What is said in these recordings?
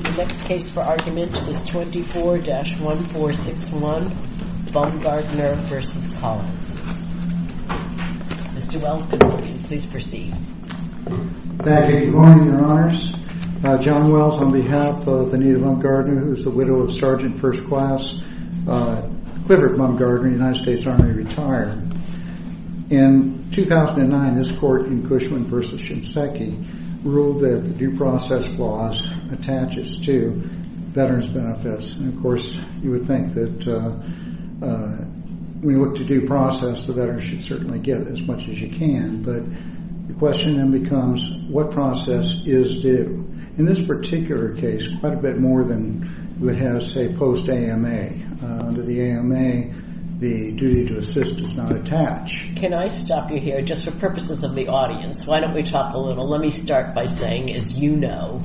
The next case for argument is 24-1461, Bumgardner v. Collins. Mr. Wells, good morning. Please proceed. Thank you. Good morning, Your Honors. John Wells on behalf of Anita Bumgardner, who is the widow of Sgt. 1st Class Clifford Bumgardner, United States Army, retired. In 2009, this court in Cushman v. Shinseki ruled that the due process clause attaches to veterans' benefits. And, of course, you would think that when you look to due process, the veterans should certainly get as much as you can. But the question then becomes, what process is due? In this particular case, quite a bit more than you would have, say, post-AMA. Under the AMA, the duty to assist is not attached. Can I stop you here just for purposes of the audience? Why don't we talk a little? Let me start by saying, as you know,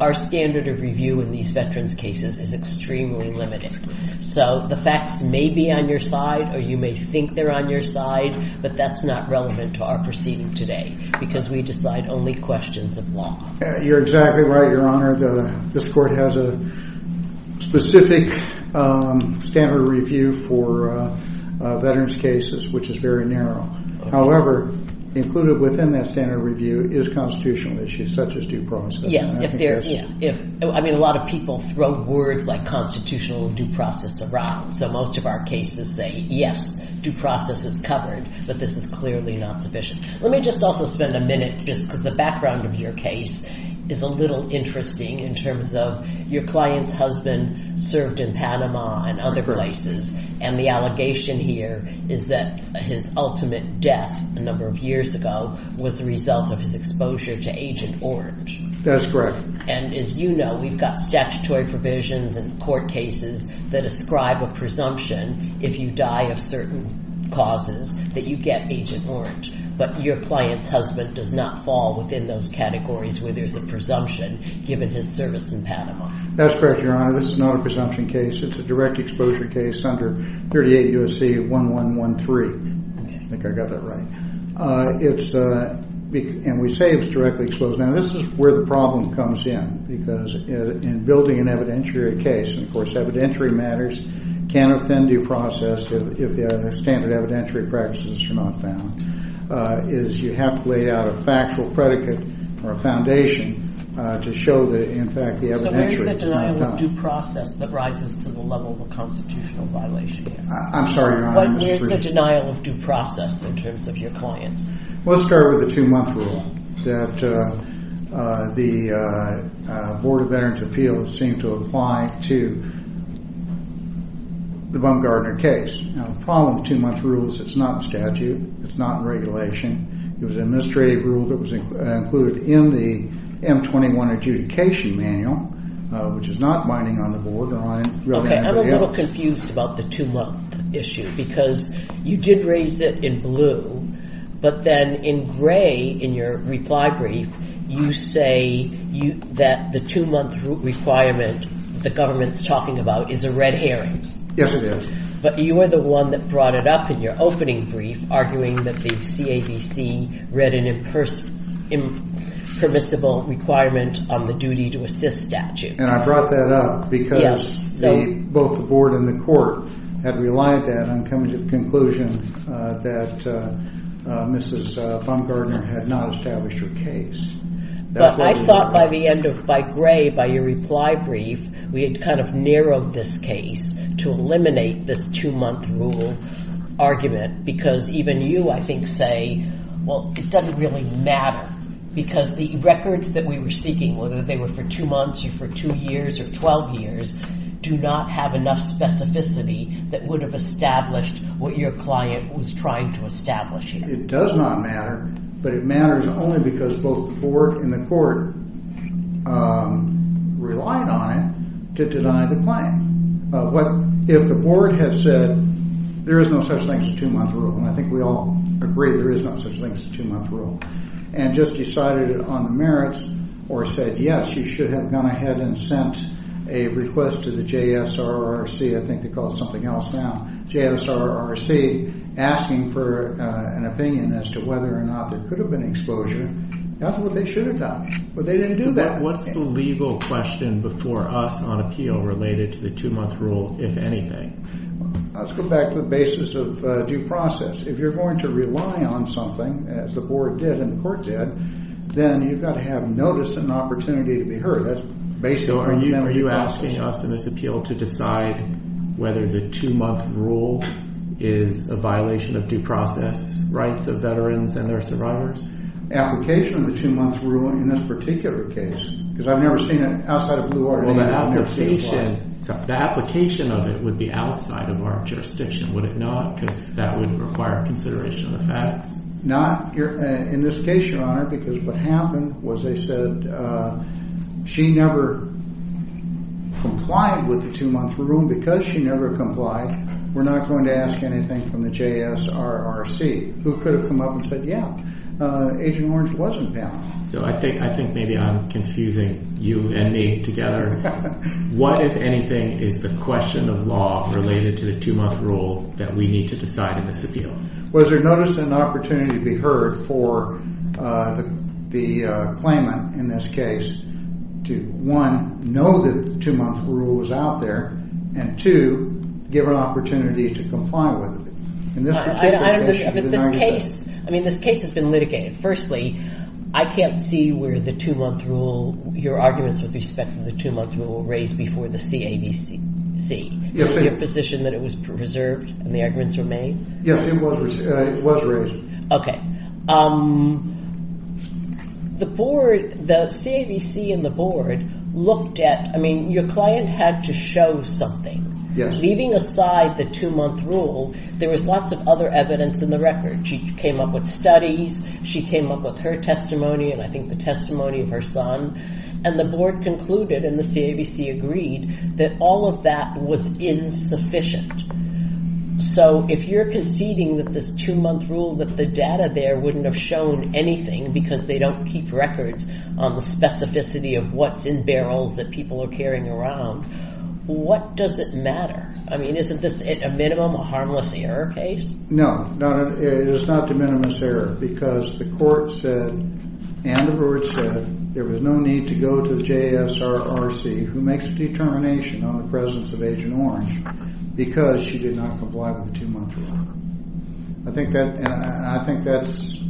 our standard of review in these veterans' cases is extremely limited. So the facts may be on your side or you may think they're on your side, but that's not relevant to our proceeding today because we decide only questions of law. You're exactly right, Your Honor. This court has a specific standard of review for veterans' cases, which is very narrow. However, included within that standard of review is constitutional issues such as due process. Yes. I mean, a lot of people throw words like constitutional and due process around. So most of our cases say, yes, due process is covered, but this is clearly not sufficient. Let me just also spend a minute just because the background of your case is a little interesting in terms of your client's husband served in Panama and other places. And the allegation here is that his ultimate death a number of years ago was the result of his exposure to Agent Orange. That's correct. And as you know, we've got statutory provisions in court cases that ascribe a presumption if you die of certain causes that you get Agent Orange. But your client's husband does not fall within those categories where there's a presumption given his service in Panama. That's correct, Your Honor. This is not a presumption case. It's a direct exposure case under 38 U.S.C. 1113. I think I got that right. And we say it's directly exposed. Now, this is where the problem comes in because in building an evidentiary case, and, of course, evidentiary matters can offend due process if the standard evidentiary practices are not found, is you have to lay out a factual predicate or a foundation to show that, in fact, the evidentiary is not done. So where is the denial of due process that rises to the level of a constitutional violation? I'm sorry, Your Honor, I misread you. Where is the denial of due process in terms of your clients? Well, let's start with the two-month rule that the Board of Veterans' Appeals seemed to apply to the Bumgarner case. Now, the problem with two-month rules is it's not in statute. It's not in regulation. It was an administrative rule that was included in the M21 adjudication manual, which is not binding on the board or on anybody else. I'm confused about the two-month issue because you did raise it in blue, but then in gray in your reply brief, you say that the two-month requirement the government's talking about is a red herring. Yes, it is. But you were the one that brought it up in your opening brief, arguing that the CABC read an impermissible requirement on the duty to assist statute. And I brought that up because both the board and the court had relied that on coming to the conclusion that Mrs. Bumgarner had not established her case. But I thought by the end of – by gray, by your reply brief, we had kind of narrowed this case to eliminate this two-month rule argument because even you, I think, say, well, it doesn't really matter. Because the records that we were seeking, whether they were for two months or for two years or 12 years, do not have enough specificity that would have established what your client was trying to establish here. It does not matter, but it matters only because both the board and the court relied on it to deny the claim. If the board had said there is no such thing as a two-month rule, and I think we all agree there is no such thing as a two-month rule, and just decided on the merits or said, yes, you should have gone ahead and sent a request to the JSRRC, I think they call it something else now, JSRRC asking for an opinion as to whether or not there could have been exposure, that's what they should have done. But they didn't do that. What's the legal question before us on appeal related to the two-month rule, if anything? Let's go back to the basis of due process. If you're going to rely on something, as the board did and the court did, then you've got to have notice and an opportunity to be heard. So are you asking us in this appeal to decide whether the two-month rule is a violation of due process rights of veterans and their survivors? The application of the two-month rule in this particular case, because I've never seen it outside of Blue Order. The application of it would be outside of our jurisdiction, would it not? Because that would require consideration of the facts. Not in this case, Your Honor, because what happened was they said she never complied with the two-month rule. And because she never complied, we're not going to ask anything from the JSRRC, who could have come up and said, yeah, Agent Orange wasn't there. So I think maybe I'm confusing you and me together. What, if anything, is the question of law related to the two-month rule that we need to decide in this appeal? Was there notice and an opportunity to be heard for the claimant in this case to, one, know that the two-month rule was out there, and, two, give an opportunity to comply with it? In this particular case, it should be denied. But this case, I mean, this case has been litigated. Firstly, I can't see where the two-month rule, your arguments with respect to the two-month rule were raised before the CAVC. Was it your position that it was preserved and the arguments were made? Yes, it was raised. The board, the CAVC and the board looked at, I mean, your client had to show something. Yes. Leaving aside the two-month rule, there was lots of other evidence in the record. She came up with studies. She came up with her testimony, and I think the testimony of her son. And the board concluded, and the CAVC agreed, that all of that was insufficient. So if you're conceding that this two-month rule, that the data there wouldn't have shown anything because they don't keep records on the specificity of what's in barrels that people are carrying around, what does it matter? I mean, isn't this, at a minimum, a harmless error case? Because she did not comply with the two-month rule. I think that's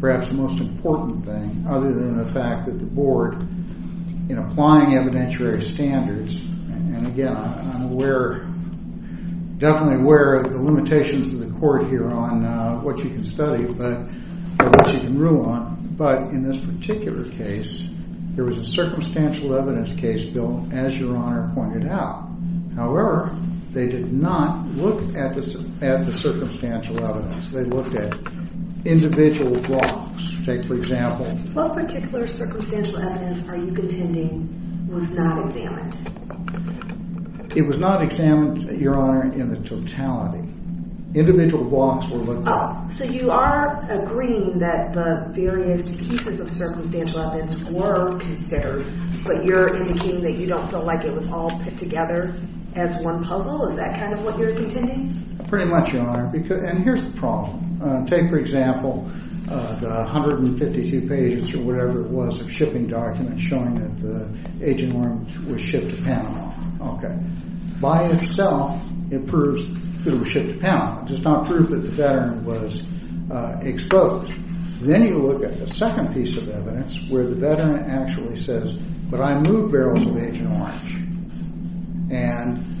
perhaps the most important thing, other than the fact that the board, in applying evidentiary standards, and again, I'm aware, definitely aware of the limitations of the court here on what you can study or what you can rule on. But in this particular case, there was a circumstantial evidence case built, as your Honor pointed out. However, they did not look at the circumstantial evidence. They looked at individual blocks. Take, for example… What particular circumstantial evidence are you contending was not examined? It was not examined, your Honor, in the totality. Individual blocks were looked at. Oh, so you are agreeing that the various pieces of circumstantial evidence were considered, but you're indicating that you don't feel like it was all put together as one puzzle? Is that kind of what you're contending? Pretty much, your Honor. And here's the problem. Take, for example, the 152 pages or whatever it was of shipping documents showing that the aging worms were shipped to Panama. Okay. By itself, it proves that it was shipped to Panama. It does not prove that the veteran was exposed. Then you look at the second piece of evidence where the veteran actually says, but I moved barrels of aging orange. And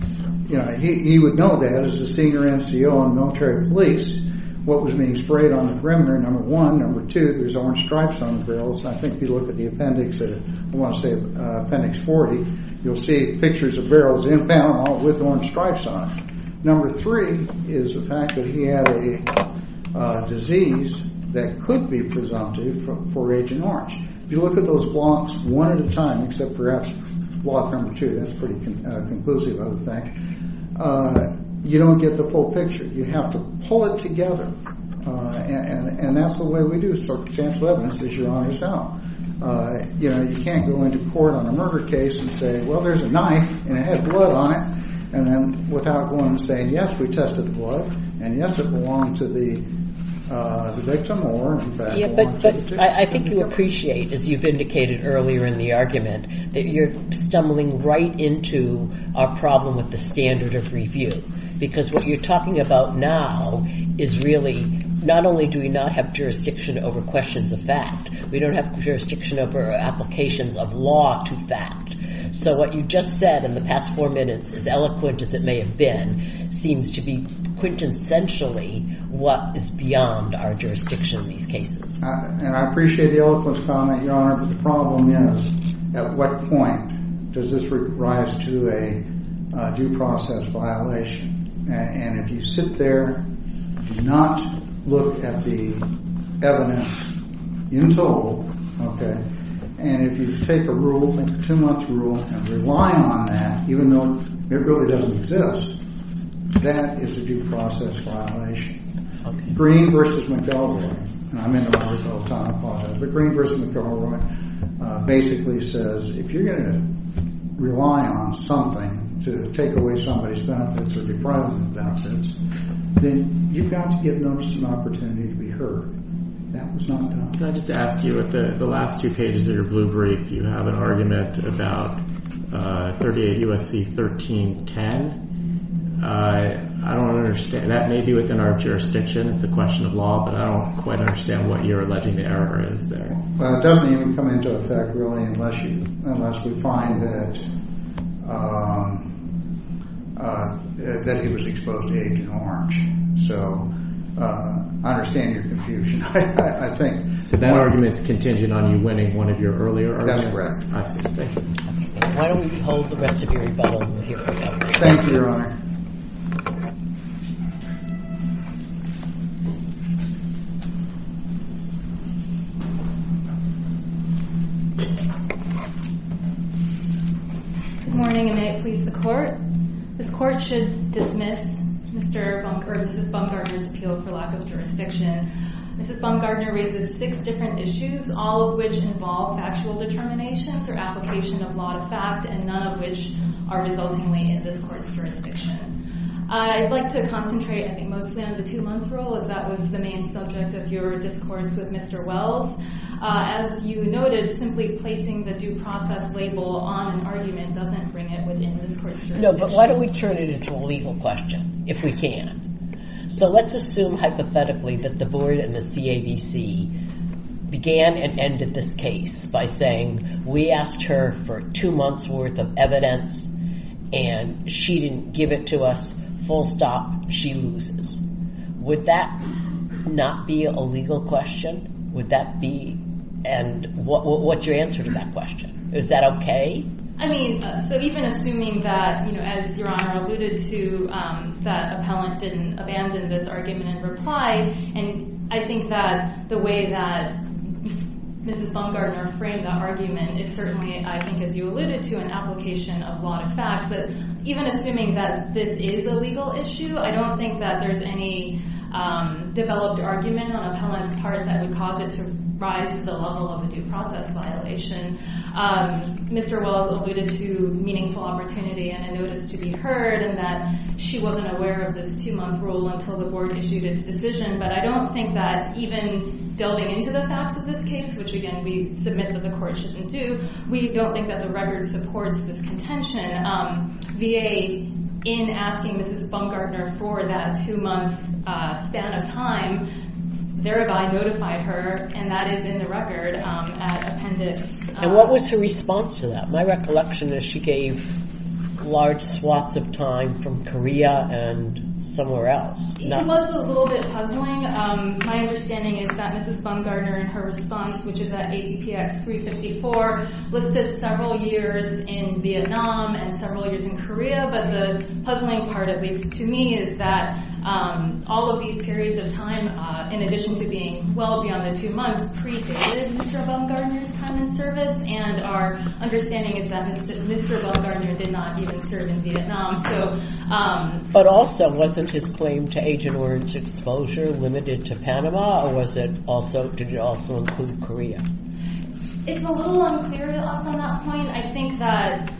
he would know that as the senior NCO on military police what was being sprayed on the perimeter, number one. Number two, there's orange stripes on the barrels. I think if you look at the appendix, I want to say appendix 40, you'll see pictures of barrels in Panama with orange stripes on them. Number three is the fact that he had a disease that could be presumptive for aging orange. If you look at those blocks one at a time, except perhaps block number two, that's pretty conclusive, I would think, you don't get the full picture. You have to pull it together. And that's the way we do circumstantial evidence, as your Honor found. You can't go into court on a murder case and say, well, there's a knife, and it had blood on it, and then without going and saying, yes, we tested the blood, and yes, it belonged to the victim or in fact belonged to the victim. But I think you appreciate, as you've indicated earlier in the argument, that you're stumbling right into a problem with the standard of review. Because what you're talking about now is really not only do we not have jurisdiction over questions of fact, we don't have jurisdiction over applications of law to fact. So what you just said in the past four minutes, as eloquent as it may have been, seems to be quintessentially what is beyond our jurisdiction in these cases. And I appreciate the eloquence comment, your Honor, but the problem is, at what point does this rise to a due process violation? And if you sit there and do not look at the evidence in total, okay, and if you take a rule, a two-month rule, and rely on that, even though it really doesn't exist, that is a due process violation. Green v. McElroy, and I'm in the library all the time, I apologize, but Green v. McElroy basically says if you're going to rely on something to take away somebody's benefits or deprive them of benefits, then you've got to give notice and opportunity to be heard. That was not done. Can I just ask you, at the last two pages of your blue brief, you have an argument about 38 U.S.C. 1310. I don't understand. That may be within our jurisdiction. It's a question of law, but I don't quite understand what you're alleging the error is there. Well, it doesn't even come into effect, really, unless we find that he was exposed to Agent Orange. So I understand your confusion, I think. So that argument is contingent on you winning one of your earlier arguments? That's correct. I see. Thank you. Why don't we hold the rest of your rebuttal and we'll hear from you. Thank you, Your Honor. Good morning, and may it please the Court. This Court should dismiss Mrs. Baumgartner's appeal for lack of jurisdiction. Mrs. Baumgartner raises six different issues, all of which involve factual determinations or application of law to fact, and none of which are resultingly in this Court's jurisdiction. I'd like to concentrate, I think, mostly on the two-month rule, as that was the main subject of your discourse with Mr. Wells. As you noted, simply placing the due process label on an argument doesn't bring it within this Court's jurisdiction. No, but why don't we turn it into a legal question, if we can? So let's assume, hypothetically, that the Board and the CABC began and ended this case by saying, we asked her for two months' worth of evidence and she didn't give it to us, full stop, she loses. Would that not be a legal question? Would that be? And what's your answer to that question? Is that okay? I mean, so even assuming that, you know, as Your Honor alluded to, that appellant didn't abandon this argument in reply, and I think that the way that Mrs. Baumgartner framed that argument is certainly, I think as you alluded to, an application of law to fact, but even assuming that this is a legal issue, I don't think that there's any developed argument on appellant's part that would cause it to rise to the level of a due process violation. Mr. Wells alluded to meaningful opportunity and a notice to be heard and that she wasn't aware of this two-month rule until the Board issued its decision, but I don't think that even delving into the facts of this case, which, again, we submit that the Court shouldn't do, we don't think that the record supports this contention. VA, in asking Mrs. Baumgartner for that two-month span of time, thereby notified her, and that is in the record at appendix. And what was her response to that? My recollection is she gave large swaths of time from Korea and somewhere else. It was a little bit puzzling. My understanding is that Mrs. Baumgartner, in her response, which is at APX 354, listed several years in Vietnam and several years in Korea, but the puzzling part, at least to me, is that all of these periods of time, in addition to being well beyond the two months, predated Mr. Baumgartner's time in service, and our understanding is that Mr. Baumgartner did not even serve in Vietnam. But also, wasn't his claim to Agent Orange exposure limited to Panama, or did it also include Korea? It's a little unclear to us on that point. I think that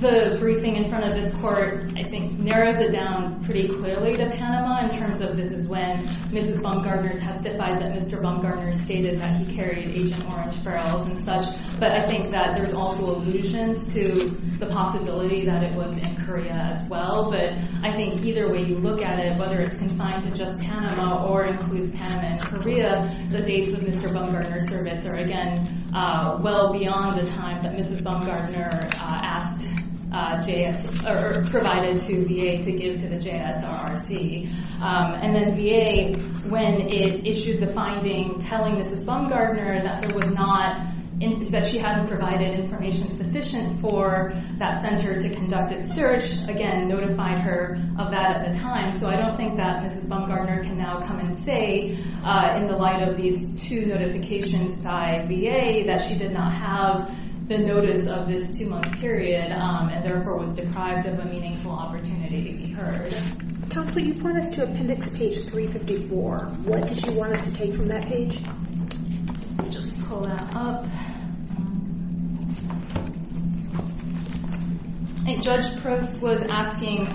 the briefing in front of this Court, I think, narrows it down pretty clearly to Panama, in terms of this is when Mrs. Baumgartner testified that Mr. Baumgartner stated that he carried Agent Orange barrels and such, but I think that there's also allusions to the possibility that it was in Korea as well. But I think either way you look at it, whether it's confined to just Panama or includes Panama and Korea, the dates of Mr. Baumgartner's service are, again, well beyond the time that Mrs. Baumgartner provided to VA to give to the JSRRC. And then VA, when it issued the finding telling Mrs. Baumgartner that she hadn't provided information sufficient for that center to conduct its search, again, notified her of that at the time. So I don't think that Mrs. Baumgartner can now come and say, in the light of these two notifications by VA, that she did not have the notice of this two-month period, and therefore was deprived of a meaningful opportunity to be heard. Counselor, you point us to appendix page 354. What did you want us to take from that page? Let me just pull that up. And Judge Brooks was asking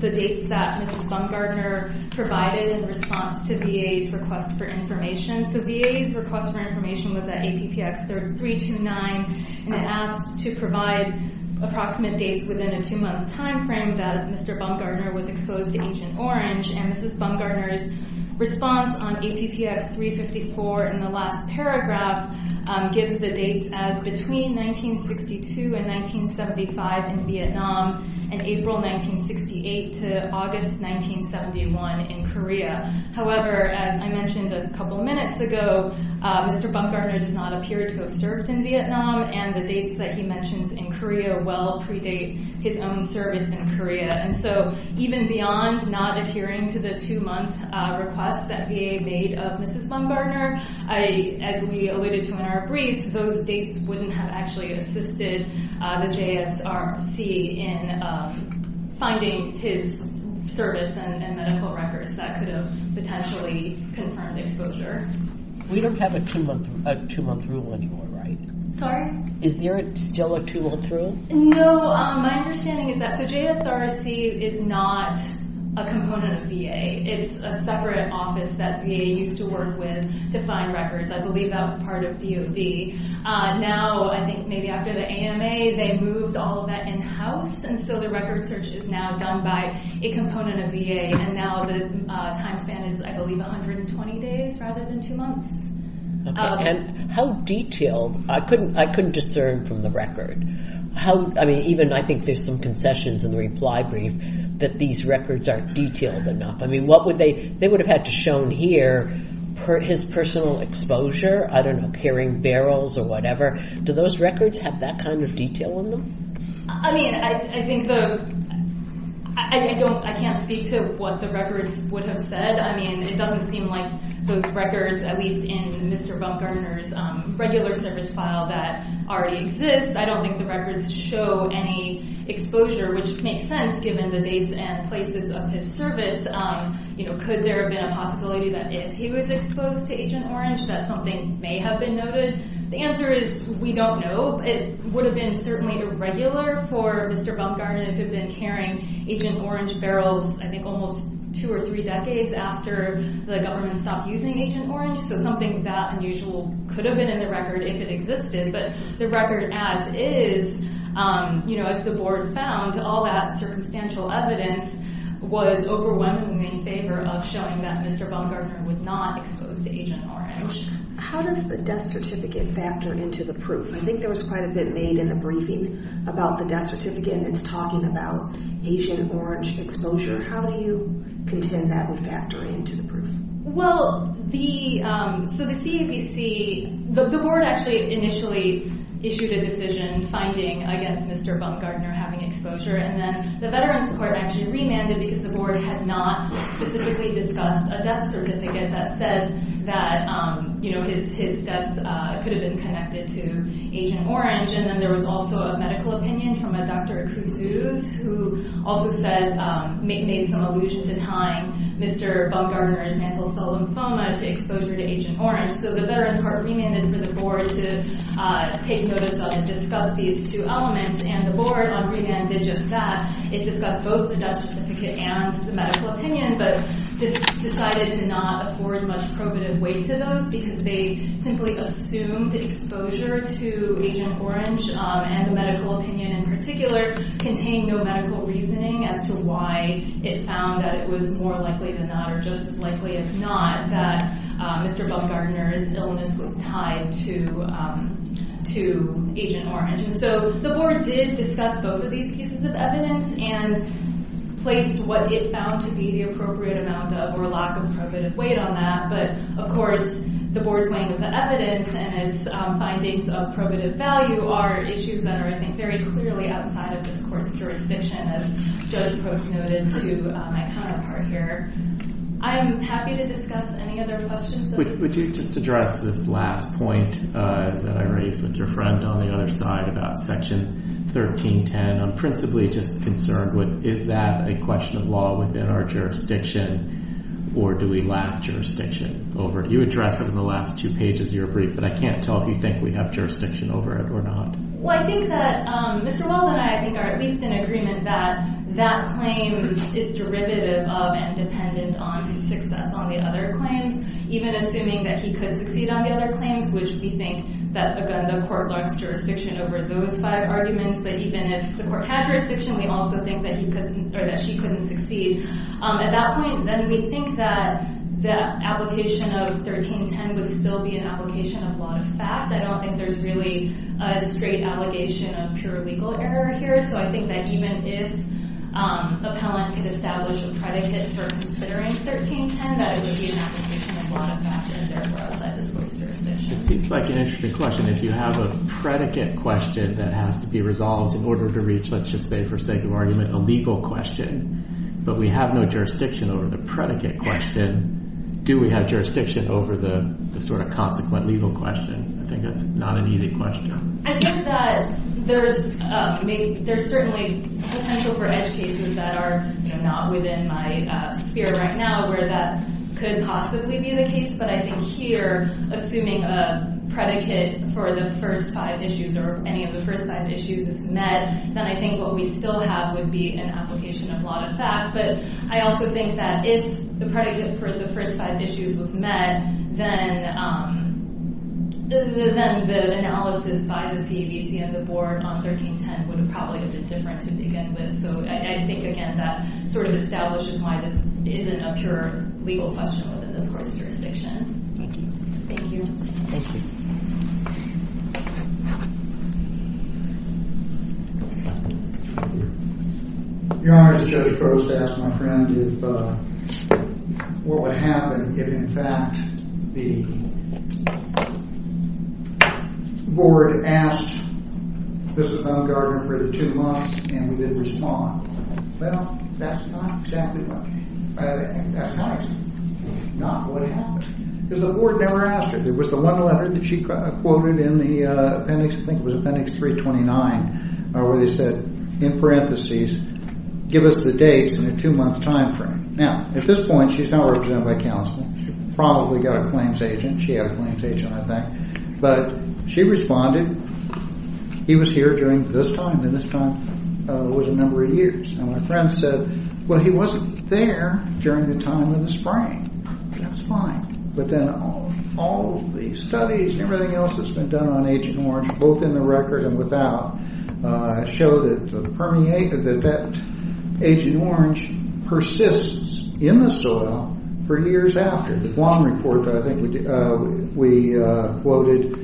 the dates that Mrs. Baumgartner provided in response to VA's request for information. So VA's request for information was at APPX 329, and it asked to provide approximate dates within a two-month time frame that Mr. Baumgartner was exposed to Agent Orange. And Mrs. Baumgartner's response on APPX 354 in the last paragraph gives the dates as between 1962 and 1975 in Vietnam, and April 1968 to August 1971 in Korea. However, as I mentioned a couple minutes ago, Mr. Baumgartner does not appear to have served in Vietnam, and the dates that he mentions in Korea well predate his own service in Korea. And so even beyond not adhering to the two-month request that VA made of Mrs. Baumgartner, as we alluded to in our brief, those dates wouldn't have actually assisted the JSRC in finding his service and medical records that could have potentially confirmed exposure. We don't have a two-month rule anymore, right? Sorry? Is there still a two-month rule? No. My understanding is that the JSRC is not a component of VA. It's a separate office that VA used to work with to find records. I believe that was part of DOD. Now, I think maybe after the AMA, they moved all of that in-house, and so the record search is now done by a component of VA. And now the time span is, I believe, 120 days rather than two months. Okay. And how detailed? I couldn't discern from the record. I mean, even I think there's some concessions in the reply brief that these records aren't detailed enough. I mean, they would have had to show here his personal exposure, I don't know, carrying barrels or whatever. Do those records have that kind of detail in them? I mean, I can't speak to what the records would have said. I mean, it doesn't seem like those records, at least in Mr. Baumgartner's regular service file that already exists, I don't think the records show any exposure, which makes sense given the dates and places of his service. Could there have been a possibility that if he was exposed to Agent Orange that something may have been noted? The answer is we don't know. It would have been certainly irregular for Mr. Baumgartner to have been carrying Agent Orange barrels, I think, almost two or three decades after the government stopped using Agent Orange, so something that unusual could have been in the record if it existed. But the record as is, you know, as the board found, all that circumstantial evidence was overwhelmingly in favor of showing that Mr. Baumgartner was not exposed to Agent Orange. How does the death certificate factor into the proof? I think there was quite a bit made in the briefing about the death certificate, and it's talking about Agent Orange exposure. How do you contend that would factor into the proof? Well, the – so the CAVC – the board actually initially issued a decision finding against Mr. Baumgartner having exposure, and then the Veterans Department actually remanded because the board had not specifically discussed a death certificate that said that, you know, his death could have been connected to Agent Orange. And then there was also a medical opinion from a Dr. Kuzuz, who also said – to exposure to Agent Orange. So the Veterans Department remanded for the board to take notice of and discuss these two elements, and the board on remand did just that. It discussed both the death certificate and the medical opinion, but decided to not afford much probative weight to those because they simply assumed exposure to Agent Orange, and the medical opinion in particular contained no medical reasoning as to why it found that it was more likely than not or just as likely as not that Mr. Baumgartner's illness was tied to Agent Orange. And so the board did discuss both of these cases of evidence and placed what it found to be the appropriate amount of or lack of probative weight on that. But, of course, the board's weighing of the evidence and its findings of probative value are issues that are, I think, very clearly outside of this court's jurisdiction, as Judge Post noted to my counterpart here. I'm happy to discuss any other questions. Would you just address this last point that I raised with your friend on the other side about Section 1310? I'm principally just concerned with is that a question of law within our jurisdiction or do we lack jurisdiction over it? You addressed it in the last two pages of your brief, but I can't tell if you think we have jurisdiction over it or not. Well, I think that Mr. Wells and I, I think, are at least in agreement that that claim is derivative of and dependent on his success on the other claims, even assuming that he could succeed on the other claims, which we think that, again, the court lacks jurisdiction over those five arguments. But even if the court had jurisdiction, we also think that he couldn't or that she couldn't succeed. At that point, then we think that the application of 1310 would still be an application of law of fact. I don't think there's really a straight allegation of pure legal error here. So I think that even if an appellant could establish a predicate for considering 1310, that it would be an application of law of fact and therefore outside this court's jurisdiction. It seems like an interesting question. If you have a predicate question that has to be resolved in order to reach, let's just say, for sake of argument, a legal question, but we have no jurisdiction over the predicate question, do we have jurisdiction over the sort of consequent legal question? I think that's not an easy question. I think that there's certainly potential for edge cases that are not within my sphere right now where that could possibly be the case. But I think here, assuming a predicate for the first five issues or any of the first five issues is met, then I think what we still have would be an application of law of fact. But I also think that if the predicate for the first five issues was met, then the analysis by the CABC and the board on 1310 would have probably been different to begin with. So I think, again, that sort of establishes why this isn't a pure legal question within this court's jurisdiction. Thank you. Thank you. Thank you. Thank you. Your Honor, the judge proposed to ask my friend what would happen if, in fact, the board asked, this is about a guardrant for the two months, and we didn't respond. Well, that's not exactly what happened. Not what happened. Because the board never asked her. There was the one letter that she quoted in the appendix, I think it was appendix 329, where they said, in parentheses, give us the dates in a two-month time frame. Now, at this point, she's not represented by counsel. She probably got a claims agent. She had a claims agent, I think. But she responded. He was here during this time, and this time was a number of years. And my friend said, well, he wasn't there during the time of the spraying. That's fine. But then all the studies and everything else that's been done on Agent Orange, both in the record and without, show that that Agent Orange persists in the soil for years after. The Guam report, I think we quoted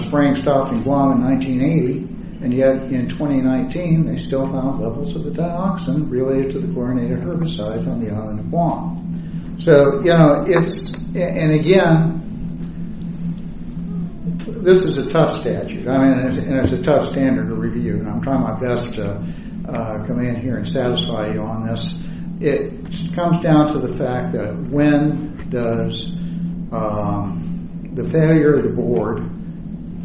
spraying stocks in Guam in 1980, and yet in 2019 they still found levels of the dioxin related to the chlorinated herbicides on the island of Guam. So, you know, it's, and again, this is a tough statute, and it's a tough standard to review, and I'm trying my best to come in here and satisfy you on this. It comes down to the fact that when does the failure of the board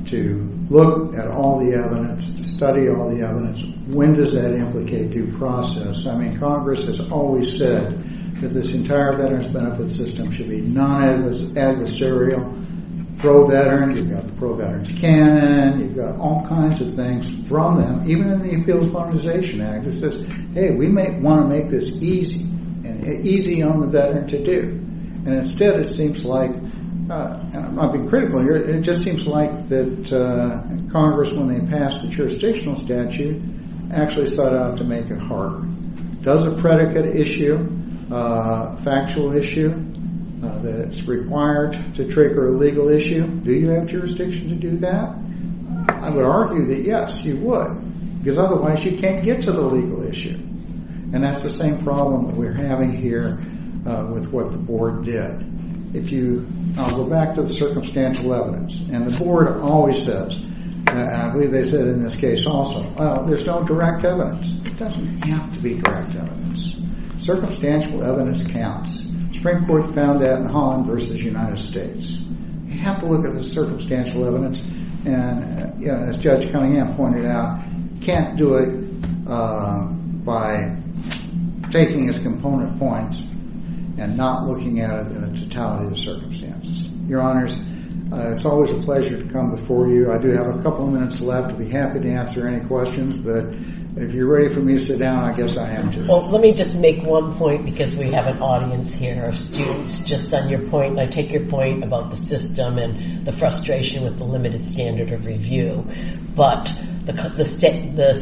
to look at all the evidence, to study all the evidence, when does that implicate due process? I mean, Congress has always said that this entire Veterans Benefit System should be non-adversarial, pro-veteran. You've got the Pro-Veterans Canon. You've got all kinds of things from them. Even in the Appeals Modernization Act, it says, hey, we want to make this easy, easy on the veteran to do, and instead it seems like, and I'm not being critical here, it just seems like that Congress, when they passed the jurisdictional statute, actually sought out to make it harder. Does a predicate issue, a factual issue, that it's required to trigger a legal issue, do you have jurisdiction to do that? I would argue that, yes, you would, because otherwise you can't get to the legal issue, and that's the same problem that we're having here with what the board did. If you go back to the circumstantial evidence, and the board always says, and I believe they said in this case also, well, there's no direct evidence. It doesn't have to be direct evidence. Circumstantial evidence counts. Supreme Court found that in Holland versus United States. You have to look at the circumstantial evidence, and as Judge Cunningham pointed out, you can't do it by taking its component points and not looking at it in the totality of the circumstances. Your Honors, it's always a pleasure to come before you. I do have a couple of minutes left. I'd be happy to answer any questions, but if you're ready for me to sit down, I guess I am too. Well, let me just make one point because we have an audience here of students just on your point, and I take your point about the system and the frustration with the limited standard of review, but the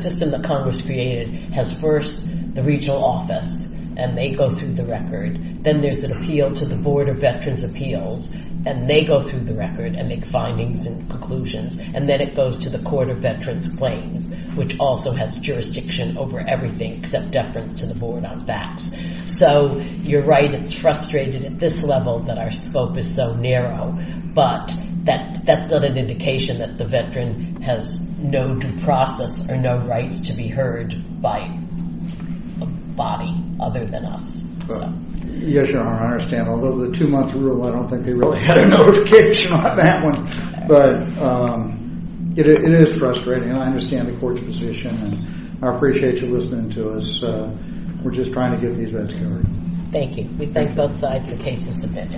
system that Congress created has first the regional office, and they go through the record. Then there's an appeal to the Board of Veterans' Appeals, and they go through the record and make findings and conclusions, and then it goes to the Court of Veterans' Claims, which also has jurisdiction over everything except deference to the board on facts. So you're right. It's frustrated at this level that our scope is so narrow, but that's not an indication that the veteran has no due process or no rights to be heard by a body other than us. Your Honor, I understand. Although the two-month rule, I don't think they really had a notification on that one, but it is frustrating, and I understand the Court's position, and I appreciate you listening to us. We're just trying to get these vets covered. Thank you. We thank both sides. The case is submitted.